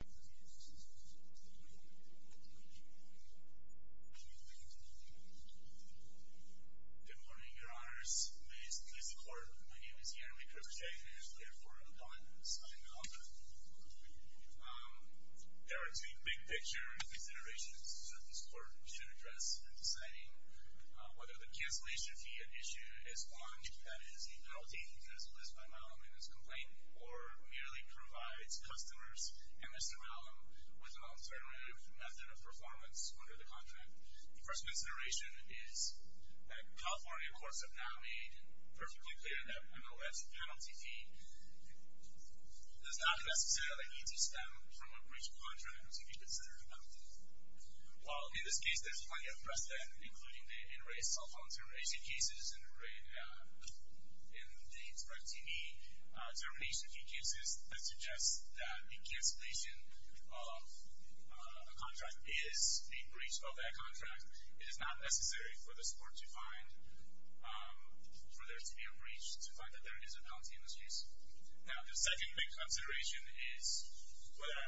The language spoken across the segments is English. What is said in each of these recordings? Good morning, your honors, ladies and gentlemen of the court, my name is Jeremy Kripochek and I am the lawyer for Adonis Mahlum. There are two big picture considerations that this court should address in deciding whether the cancellation fee issue is one, that is, the penalty that is placed by Mahlum in his complaint or merely provides customers and Mr. Mahlum with an alternative method of performance under the contract. The first consideration is that California courts have now made perfectly clear that MOS penalty fee does not necessarily need to stem from a breach of contract to be considered a penalty. While in this case there is plenty of precedent, including the in-rate cell phone termination cases and the in-date rec TV termination cases, that suggests that the cancellation of a contract is a breach of that contract. It is not necessary for this court to find for there to be a breach, to find that there is a penalty in this case. Now the second big consideration is whether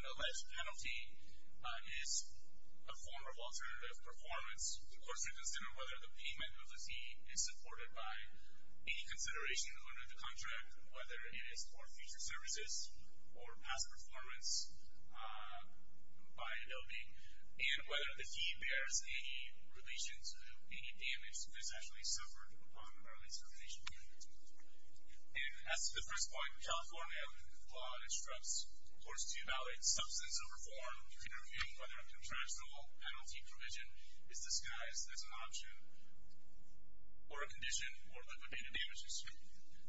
an alleged penalty is a form of alternative performance. The court should consider whether the payment of the fee is supported by any consideration under the contract, whether it is for future services or past performance by Adobe, and whether the fee bears any relation to any damage that is actually suffered on the termination point. And as to the first point, California law instructs courts to evaluate substance of reform in reviewing whether a contractual penalty provision is disguised as an option or a condition for liquidated damages.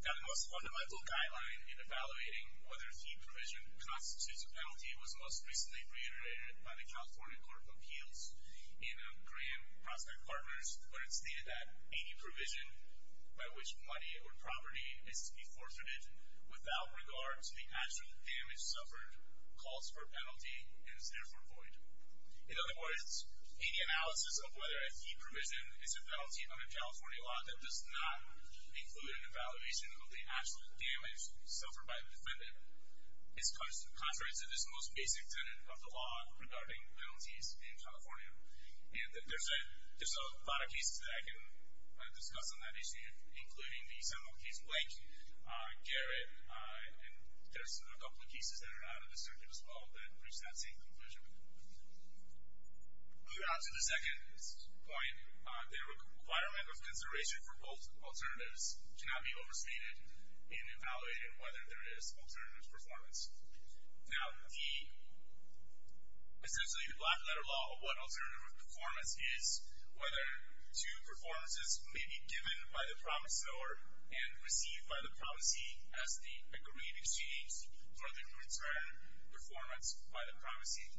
Now the most fundamental guideline in evaluating whether a fee provision constitutes a penalty was most recently reiterated by the California Court of Appeals in Graham Prospect Partners where it stated that any provision by which money or property is to be forfeited without regard to the actual damage suffered calls for a penalty and is therefore void. In other words, any analysis of whether a fee provision is a penalty under California law that does not include an evaluation of the actual damage suffered by the defendant is contrary to this most basic tenet of the law regarding penalties in California. And there's a lot of cases that I can discuss on that issue, including the seminal case Blank, Garrett, and there's a couple of cases that are out of the circuit as well that reach that same conclusion. Moving on to the second point, the requirement of consideration for both alternatives cannot be overstated in evaluating whether there is alternative performance. Now the, essentially the black letter law of what alternative performance is, whether two performances may be given by the promiseor and received by the promisee as the agreed exchange for the return performance by the promisee.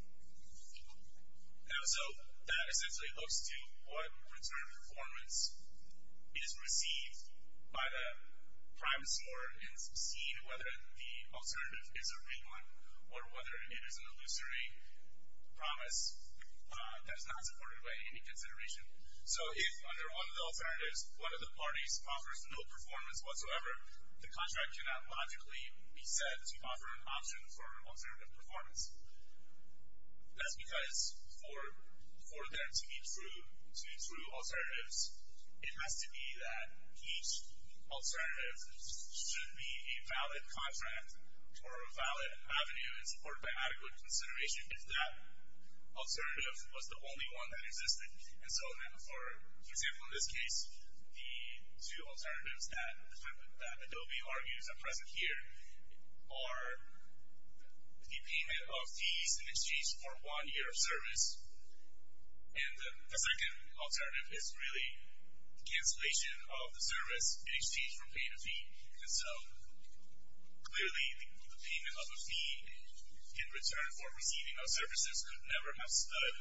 And so that essentially looks to what return performance is received by the promiseor in seeing whether the alternative is a real one or whether it is an illusory promise that is not supported by any consideration. So if under one of the alternatives, one of the parties offers no performance whatsoever, the contract cannot logically be said to offer an option for alternative performance. That's because for them to be true alternatives, it has to be that each alternative should be a valid contract or a valid avenue in support by adequate consideration if that alternative was the only one that existed. And so then for example in this case, the two alternatives that Adobe argues are present here are the payment of fees in exchange for one year of service and the second alternative is really cancellation of the service in exchange for pay to fee. And so clearly the payment of a fee in return for receiving of services could never have stood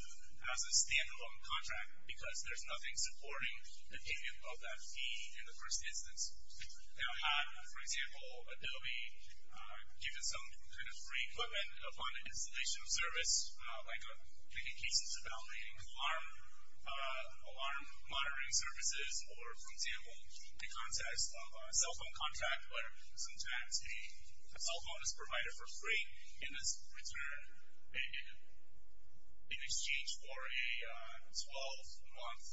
as a stand-alone contract because there's nothing supporting the payment of that fee in the first instance. Now had, for example, Adobe given some kind of free equipment upon installation of service, like making cases about alarm monitoring services or, for example, in the context of a cell phone contract where sometimes a cell phone is provided for free in this return in exchange for a 12-month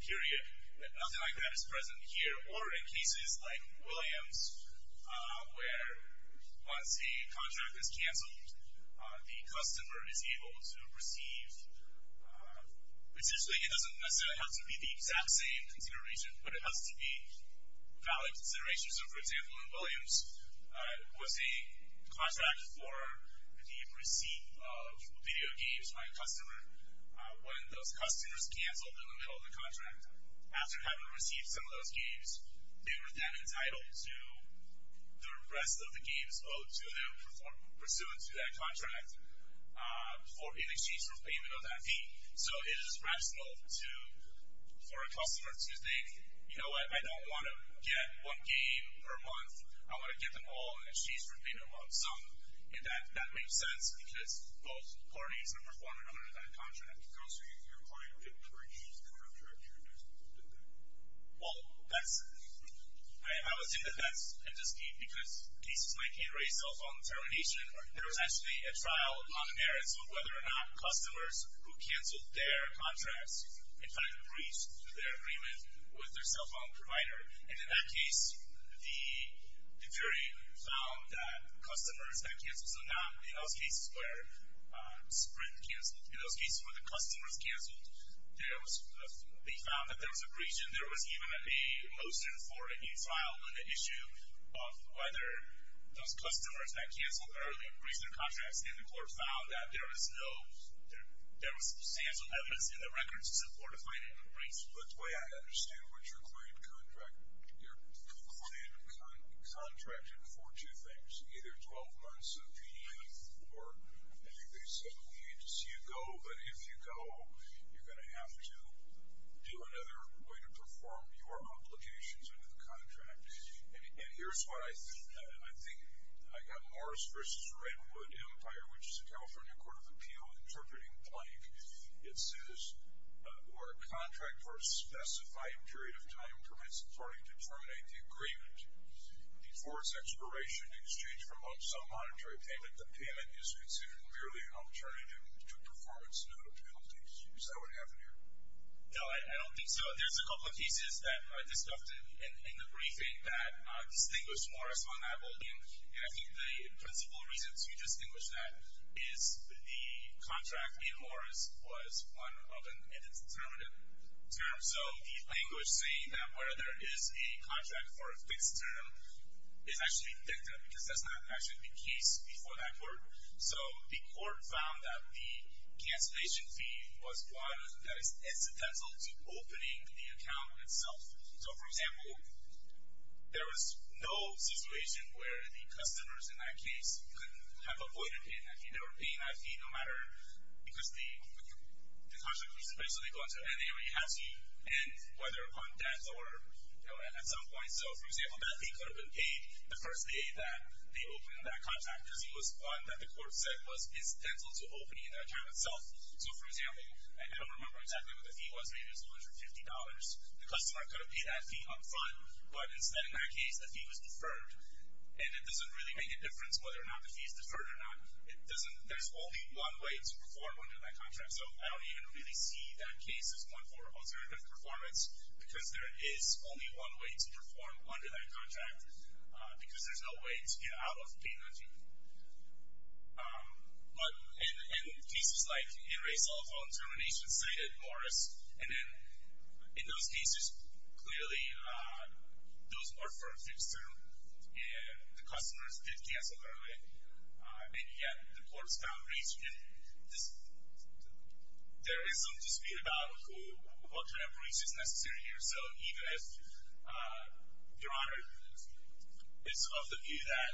period, nothing like that is present here. Or in cases like Williams where once a contract is canceled, the customer is able to receive, essentially it doesn't necessarily have to be the exact same consideration, but it has to be valid consideration. So for example, in Williams was a contract for the receipt of video games by a customer when those customers canceled in the middle of the contract. After having received some of those games, they were then entitled to the rest of the games owed to them pursuant to that contract in exchange for payment of that fee. So it is rational for a customer to think, you know what, I don't want to get one game per month, I want to get them all in exchange for payment of some. And that makes sense because those recordings, number one, are under that contract. Well, that's, I would think that that's a dispute because in cases like a race cell phone termination, there was actually a trial on the merits of whether or not customers who canceled their contracts in fact breached their agreement with their cell phone provider. And in that case, the jury found that customers that canceled, so not in those cases where Sprint canceled, in those cases where the customers canceled, they found that there was a breach and there was even a motion for a trial on the issue of whether those customers that canceled early and breached their contracts, and the court found that there was no, there was substantial evidence in the records to support a fight and a breach. But the way I understand what you're claiming to contract, you're claiming to contract it for two things, either 12 months of payment or a day, seven weeks, you go, but if you go, you're going to have to do another way to perform your obligations under the contract. And here's what I think. I think I got Morris v. Redwood Empire, which is a California court of appeal interpreting plank. It says, or a contract for a specified period of time permits a party to terminate the agreement. Before its expiration in exchange for some monetary payment, the payment is considered merely an alternative to performance note penalties. Is that what happened here? No, I don't think so. There's a couple of cases that I discussed in the briefing that distinguished Morris on that. And I think the principal reason to distinguish that is the contract in Morris was one of an indeterminate term. So the language saying that where there is a contract for a fixed term is actually dicta, because that's not actually the case before that court. So the court found that the cancellation fee was one that is incidental to opening the account itself. So, for example, there was no situation where the customers in that case could have avoided paying that fee. They were paying that fee no matter because the contract was eventually going to end. They already had to end, whether upon death or at some point. So, for example, that fee could have been paid the first day that they opened that contract because it was one that the court said was incidental to opening the account itself. So, for example, I don't remember exactly what the fee was. Maybe it was $150. The customer could have paid that fee up front, but instead in that case the fee was deferred. And it doesn't really make a difference whether or not the fee is deferred or not. There's only one way to perform under that contract. So I don't even really see that case as one for alternative performance because there is only one way to perform under that contract because there's no way to get out of paying that fee. But in cases like in-rate cell phone termination, say that Morris, and in those cases clearly those were for a fixed term. The customers did cancel early. And yet the court's found reach. There is some dispute about what kind of reach is necessary here. So even if, Your Honor, it's of the view that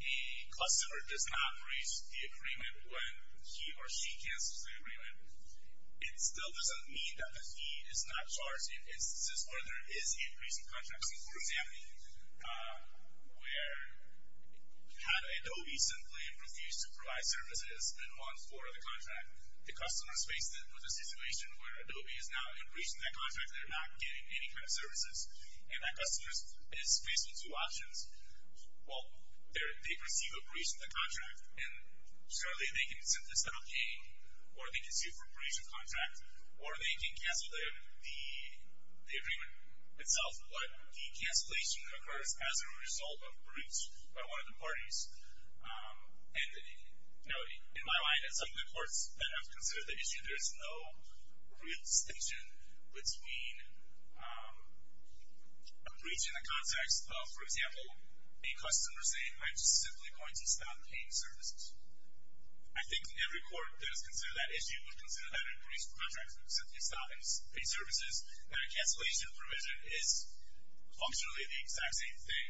a customer does not reach the agreement when he or she cancels the agreement, it still doesn't mean that the fee is not charged in instances where there is a breach in contract. So, for example, where had Adobe simply refused to provide services in one for the contract, the customers faced with a situation where Adobe is now in breach in that contract. They're not getting any kind of services. And that customer is faced with two options. Well, they receive a breach in the contract. And surely they can simply settle paying or they can sue for breach of contract or they can cancel the agreement itself. But the cancellation occurs as a result of breach by one of the parties. And, you know, in my mind, in some of the courts that have considered the issue, there is no real distinction between a breach in the context of, for example, a customer saying, I'm just simply going to stop paying services. I think every court that has considered that issue would consider that a breach of contract would simply stop paying services, that a cancellation provision is functionally the exact same thing.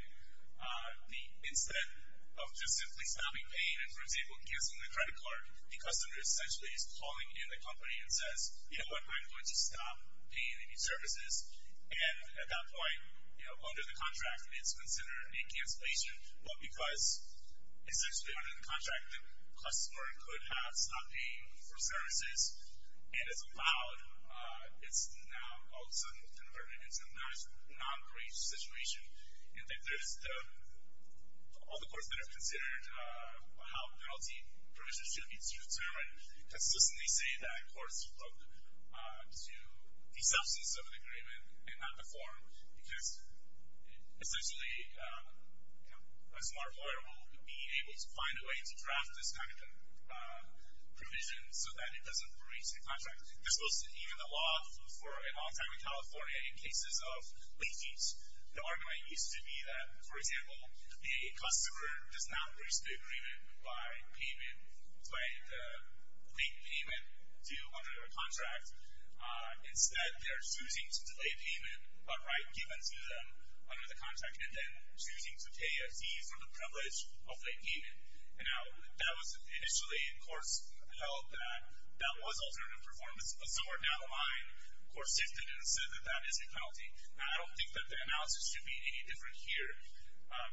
Instead of just simply stopping paying and, for example, cancelling the credit card, the customer essentially is calling in the company and says, you know, I'm going to stop paying any services. And at that point, you know, under the contract it's considered a cancellation. But because essentially under the contract the customer could have stopped paying for services and is allowed, it's now all of a sudden converted into a non-breach situation. All the courts that have considered how penalty provisions should be determined consistently say that courts should look to the substance of the agreement and not the form because essentially a smart lawyer won't be able to find a way to draft this kind of provision so that it doesn't breach the contract. This was even the law for a long time in California in cases of late fees. The argument used to be that, for example, the customer does not breach the agreement by payment, by the late payment due under the contract. Instead, they are choosing to delay payment, a right given to them under the contract, and then choosing to pay a fee for the privilege of late payment. Now, that was initially in courts held that that was alternative performance. But somewhere down the line, courts shifted and said that that is a penalty. Now, I don't think that the analysis should be any different here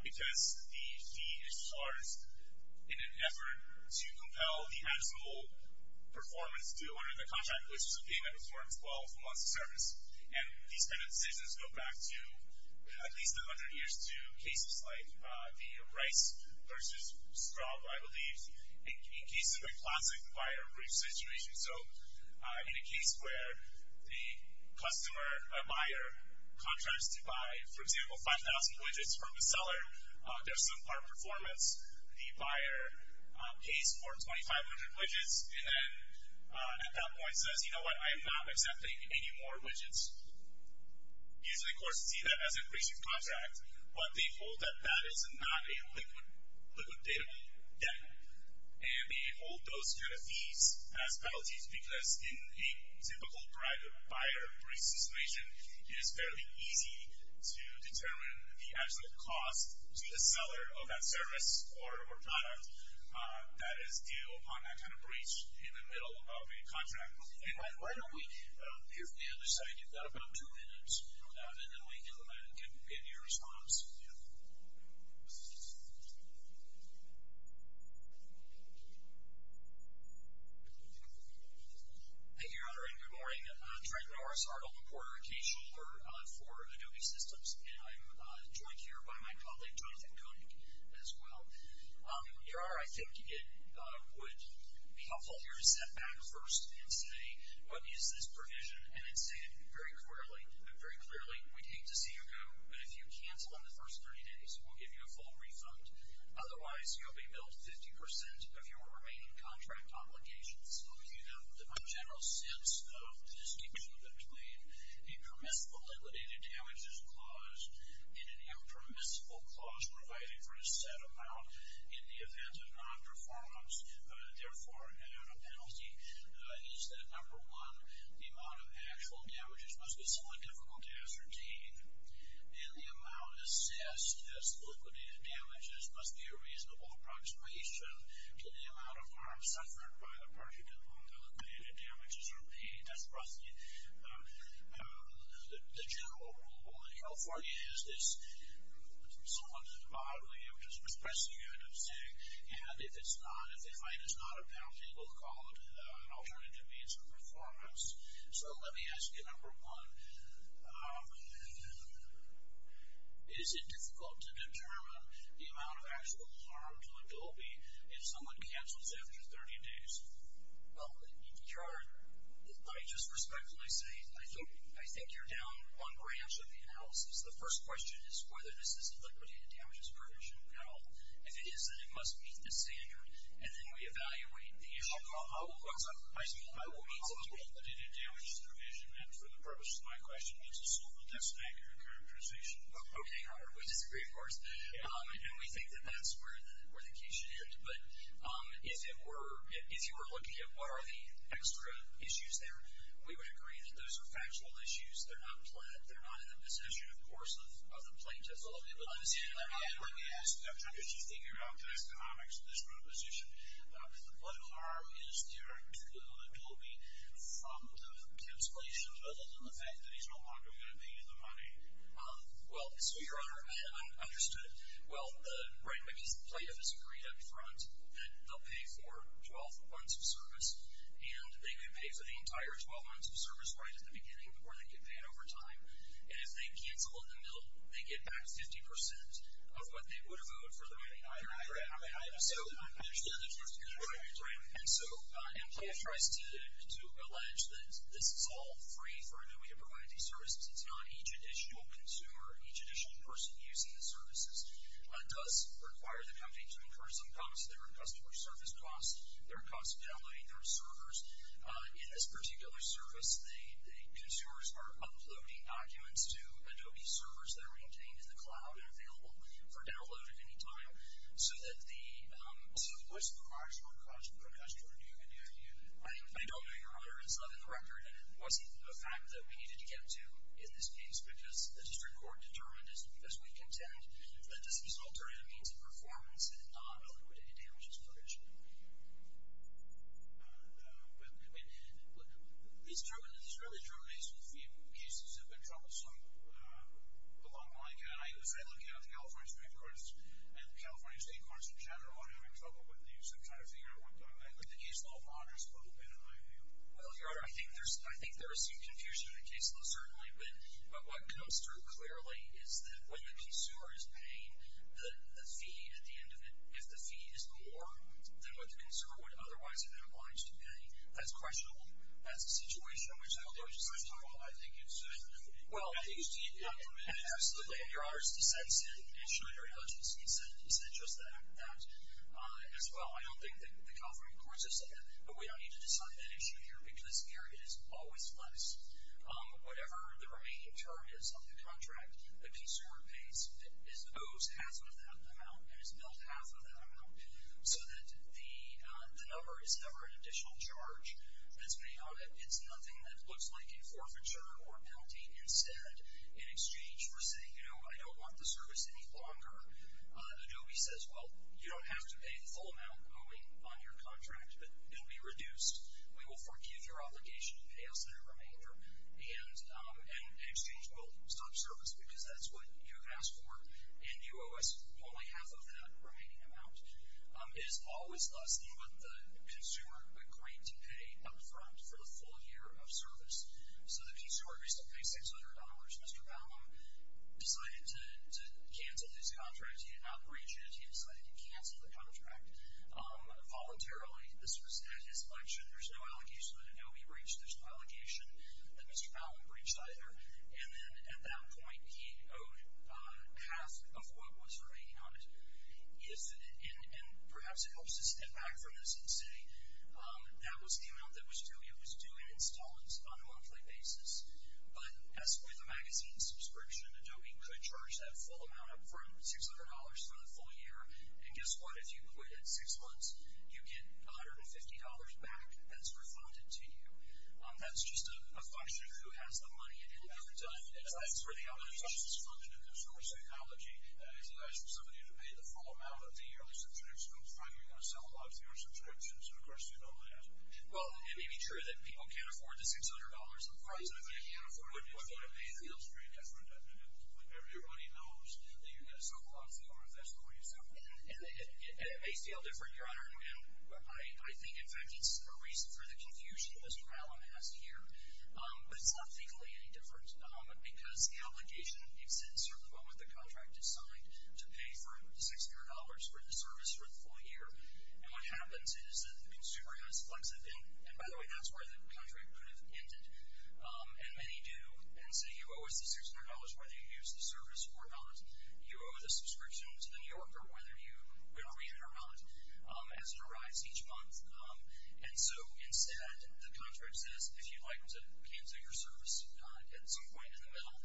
because the fee is charged in an effort to compel the actual performance due under the contract, which should be in a performance well for months of service. And these kind of decisions go back to at least 100 years to cases like the Rice versus Straub, I believe, in cases of a classic buyer breach situation. So in a case where the buyer contracts to buy, for example, 5,000 widgets from the seller, there's some part performance, the buyer pays for 2,500 widgets, and then at that point says, you know what, I'm not accepting any more widgets. Usually courts see that as a breach of contract, but they hold that that is not a liquid data debt. And they hold those kind of fees as penalties because in a typical buyer breach situation, it is fairly easy to determine the actual cost to the seller of that service or product that is due upon that kind of breach in the middle of a contract. Hey, why don't we hear from the other side? You've got about two minutes, and then we can give you a response. Thank you, Your Honor, and good morning. Trent Norris, article reporter at KSchuler for Adobe Systems, and I'm joined here by my colleague, Jonathan Koenig, as well. Your Honor, I think it would be helpful here to set back first and say, what is this provision, and then say it very clearly. Very clearly, we'd hate to see you go, but if you cancel on the first 30 days, we'll give you a full refund. Otherwise, you'll be billed 50% of your remaining contract obligations. So if you have the general sense of the distinction between a permissible liquidated damages clause and an impermissible clause providing for a set amount in the event of non-performance, therefore not a penalty, is that number one, the amount of actual damages must be somewhat difficult to ascertain, and the amount assessed as liquidated damages must be a reasonable approximation to the amount of harm suffered by the person to whom the liquidated damages are paid. That's roughly the general rule. California has this somewhat bodily, I'm just expressing it, I'm saying, and if it's not, if the fine is not a penalty, we'll call it an alternative means of performance. So let me ask you, number one, is it difficult to determine the amount of actual harm to a Dolby if someone cancels after 30 days? Well, Your Honor, I just respectfully say I think you're down one branch of the analysis. The first question is whether this is a liquidated damages provision. Now, if it is, then it must meet the standard. And then we evaluate the issue. I will quote the liquidated damages provision, and for the purposes of my question, it's a small but definite characterization. Okay, Your Honor, we disagree, of course. I know we think that that's where the case should end, but if you were looking at what are the extra issues there, we would agree that those are factual issues. They're not planned. They're not in the possession, of course, of the plaintiff. Absolutely. Let me ask you, I'm just thinking about the economics of this proposition. What harm is there to a Dolby from the cancellation, other than the fact that he's no longer going to be in the money? Well, so, Your Honor, I haven't understood. Well, the plaintiff has agreed up front that they'll pay for 12 months of service, and they may pay for the entire 12 months of service right at the beginning before they get paid overtime. And if they cancel in the middle, they get back 50% of what they would have owed for the money. I understand that, Your Honor. And so the plaintiff tries to allege that this is all free for a newbie to provide these services. It's not. Each additional consumer, each additional person using the services, does require the company to incur some costs. There are customer service costs. There are costs of downloading their servers. In this particular service, the consumers are uploading documents to Adobe servers that are maintained in the cloud and available for download at any time so that the- So, what's the marginal cost of commercial renewal? I don't know, Your Honor. It's not in the record, and it wasn't a fact that we needed to get to in this case because the district court determined, as we contend, that this is an alternative means of performance and not a liquidated damages provision. But it's true, it's really true. These cases have been troublesome along the line. As I look out at the California State Courts and the California State Courts in general, I'm having trouble with these. I'm trying to figure out what the- I think the caseload model is a little bit in my view. Well, Your Honor, I think there is some confusion in the caseload, certainly, but what comes through clearly is that when the consumer is paying the fee at the end of it, if the fee is more than what the consumer would otherwise have been obliged to pay, that's questionable. That's a situation in which I don't think it's questionable. Well, I think it's- Well, I think it's- Absolutely. Your Honor's dissent said- I'm sure Your Honor's dissent said just that as well. I don't think that the California Courts have said, but we don't need to decide that issue here because the area is always less. Whatever the remaining term is of the contract, the consumer owes half of that amount and has billed half of that amount so that the number is never an additional charge that's made on it. It's nothing that looks like a forfeiture or a penalty. Instead, in exchange for saying, you know, I don't want the service any longer, Adobe says, well, you don't have to pay the full amount going on your contract, but it will be reduced. We will forgive your obligation to pay us the remainder, and in exchange we'll stop service because that's what you've asked for, and you owe us only half of that remaining amount. It is always less than what the consumer would claim to pay up front for the full year of service. So the piece of work is to pay $600. Mr. Ballum decided to cancel his contract. He did not breach it. He decided to cancel the contract voluntarily. This was at his collection. There's no allocation that Adobe breached. There's no allocation that Mr. Ballum breached either. And then at that point he owed half of what was remaining on it. And perhaps it helps us step back from this and say that was the amount that was due. It was due in installments on a monthly basis. But as with a magazine subscription, Adobe could charge that full amount up front, $600 for the full year. And guess what? If you quit at six months, you get $150 back. That's refunded to you. That's just a function of who has the money. And that's where the allocation is funded in consumer psychology. If you ask somebody to pay the full amount of the yearly subscription up front, you're going to sell a lot fewer subscriptions. And, of course, you know that. Well, it may be true that people can't afford the $600 up front, but if they can't afford it up front, it feels very different. Everybody knows that you've got to sell a lot fewer if that's the way you feel. And it may feel different, Your Honor. I think, in fact, it's a reason for the confusion Mr. Malin has here. But it's not legally any different because the obligation exists at the moment the contract is signed to pay for $600 for the service for the full year. And what happens is that the consumer has flexibility. And, by the way, that's where the contract could have ended. And many do. And so you owe us the $600 whether you use the service or not. You owe the subscription to the New Yorker whether you read it or not. As it arrives each month. And so, instead, the contract says, if you'd like to cancel your service at some point in the middle,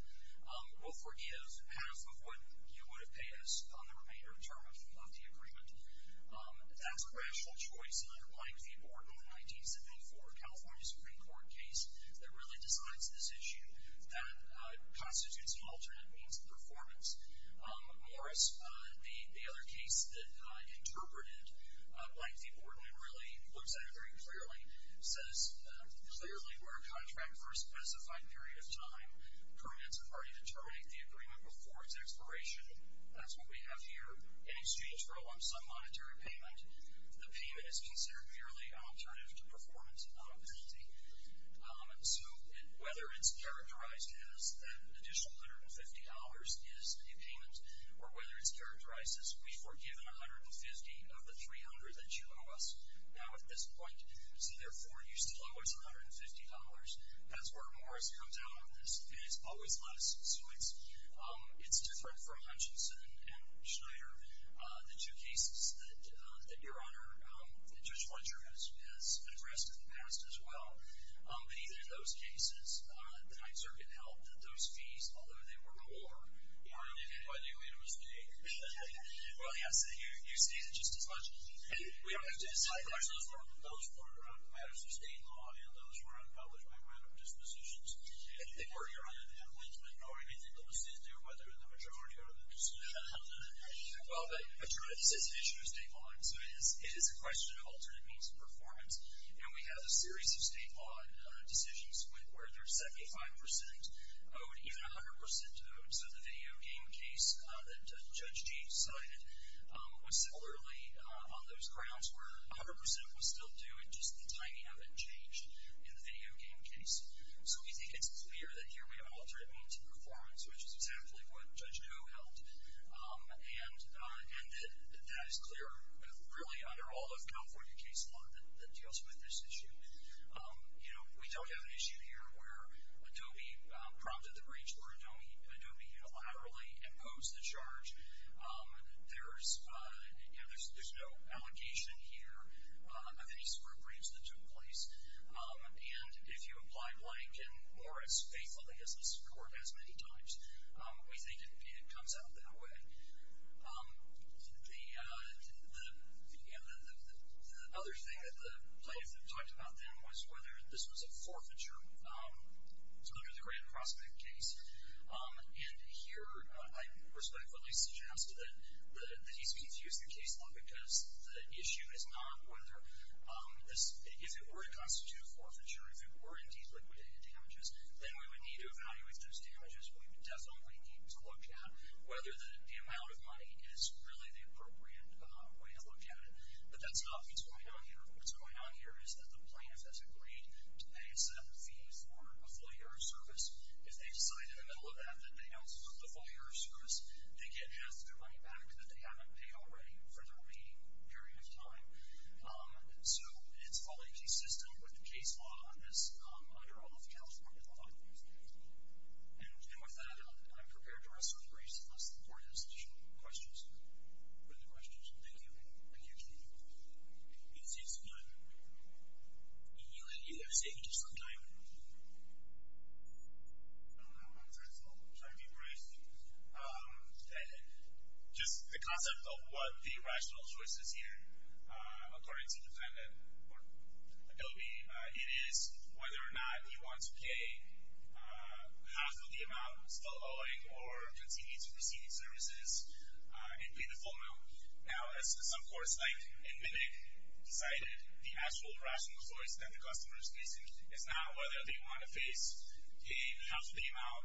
we'll forgive half of what you would have paid us on the remainder of term of the agreement. That's a rational choice, and I'm relying on the important 1974 California Supreme Court case that really decides this issue. That constitutes an alternate means of performance. Morris, the other case that interpreted by the board and really looks at it very clearly, says clearly where a contract for a specified period of time permits a party to terminate the agreement before its expiration. That's what we have here. Any student's role on some monetary payment. The payment is considered merely an alternative to performance penalty. So whether it's characterized as an additional $150 is the payment, or whether it's characterized as, we've forgiven $150 of the $300 that you owe us. Now, at this point, see, therefore, you still owe us $150. That's where Morris comes out on this. And it's always less. So it's different for Hutchinson and Schneider. The two cases that Your Honor, Judge Fletcher, has addressed in the past as well. In either of those cases, the High Circuit held that those fees, although they were lower, weren't an evaluated mistake. Well, yes. You stated just as much. And we don't have to decide. Those were matters of state law, and those were unpublished by a matter of dispositions. And if they were, Your Honor, the appellant might know anything that was said there, whether the majority or the disposition. Well, the majority says an issue of state law. So it is a question of alternate means of performance. And we have a series of state law decisions where there's 75% owed, even 100% owed. So the video game case that Judge G. cited was similarly on those grounds where 100% was still due, it's just the timing of it changed in the video game case. So we think it's clear that here we have alternate means of performance, which is exactly what Judge Doe held, and that that is clear really under all of California Case Law that deals with this issue. You know, we don't have an issue here where Adobe prompted the breach or Adobe unilaterally imposed the charge. There's no allegation here of any sort of breach that took place. And if you apply Blank and Morris faithfully as this Court has many times, we think it comes out that way. The other thing that the plaintiffs have talked about then was whether this was a forfeiture under the Grand Prospect case. And here I respectfully suggest that these be used in case law because the issue is not whether this, if it were to constitute a forfeiture, if it were indeed liquidated damages, then we would need to evaluate those damages. We would definitely need to look at whether the amount of money is really the appropriate way to look at it. But that's not what's going on here. What's going on here is that the plaintiff has agreed to pay a set fee for a full year of service. If they decide in the middle of that that they don't want the full year of service, they get half their money back that they haven't paid already for the remaining period of time. So it's fully consistent with the case law on this under all of California law. And with that, I'm prepared to rest on Grace's most important questions. Are there questions? Thank you. I can't hear you. It seems to be on. You have a statement of some kind? I don't know. I'm trying to be brief. Just the concept of what the rational choice is here, according to the defendant, Adobe, it is whether or not you want to pay half of the amount still owing or continue to receive these services and pay the full amount. Now, as some courts, like in MNIC, decided the actual rational choice that the customer is facing is now whether they want to face a half the amount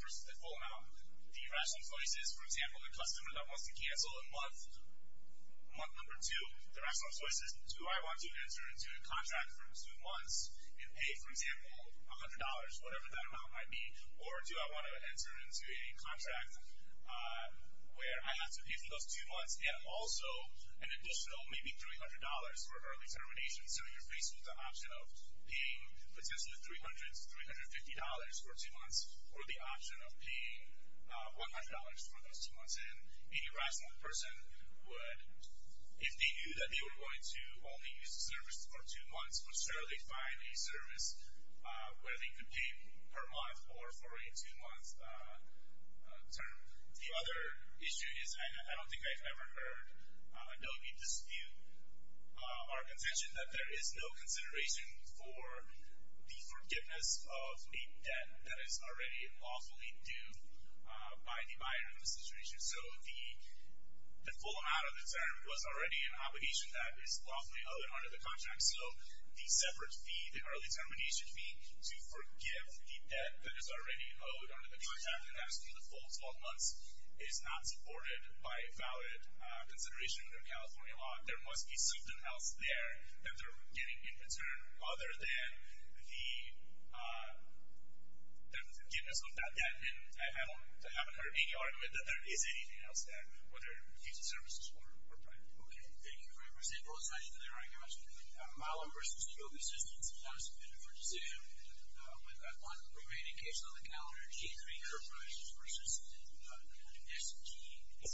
versus the full amount. The rational choice is, for example, the customer that wants to cancel in month number two, the rational choice is do I want to enter into a contract for two months and pay, for example, $100, whatever that amount might be, or do I want to enter into a contract where I have to pay for those two months and also an additional maybe $300 for early termination. So you're facing the option of paying potentially $300 to $350 for two months and a rational person would, if they knew that they were going to only use the service for two months, would surely find a service where they could pay per month or for a two-month term. The other issue is, and I don't think I've ever heard Adobe dispute, our contention that there is no consideration for the forgiveness of a debt that is already lawfully due by the buyer in this situation. So the full amount of the term was already an obligation that is lawfully owed under the contract, so the separate fee, the early termination fee, to forgive the debt that is already owed under the contract, and that's for the full 12 months, is not supported by valid consideration under California law. There must be something else there that they're getting in return other than the forgiveness of that debt, and I haven't heard any argument that there is anything else there, whether it be fees and services or private property. Okay, thank you very much. Thank you both so much for that argument. Milo versus Hugo. This is the 2,000-minute decision. We've got one remaining case on the calendar, G3 Corporations versus S&T. Yes.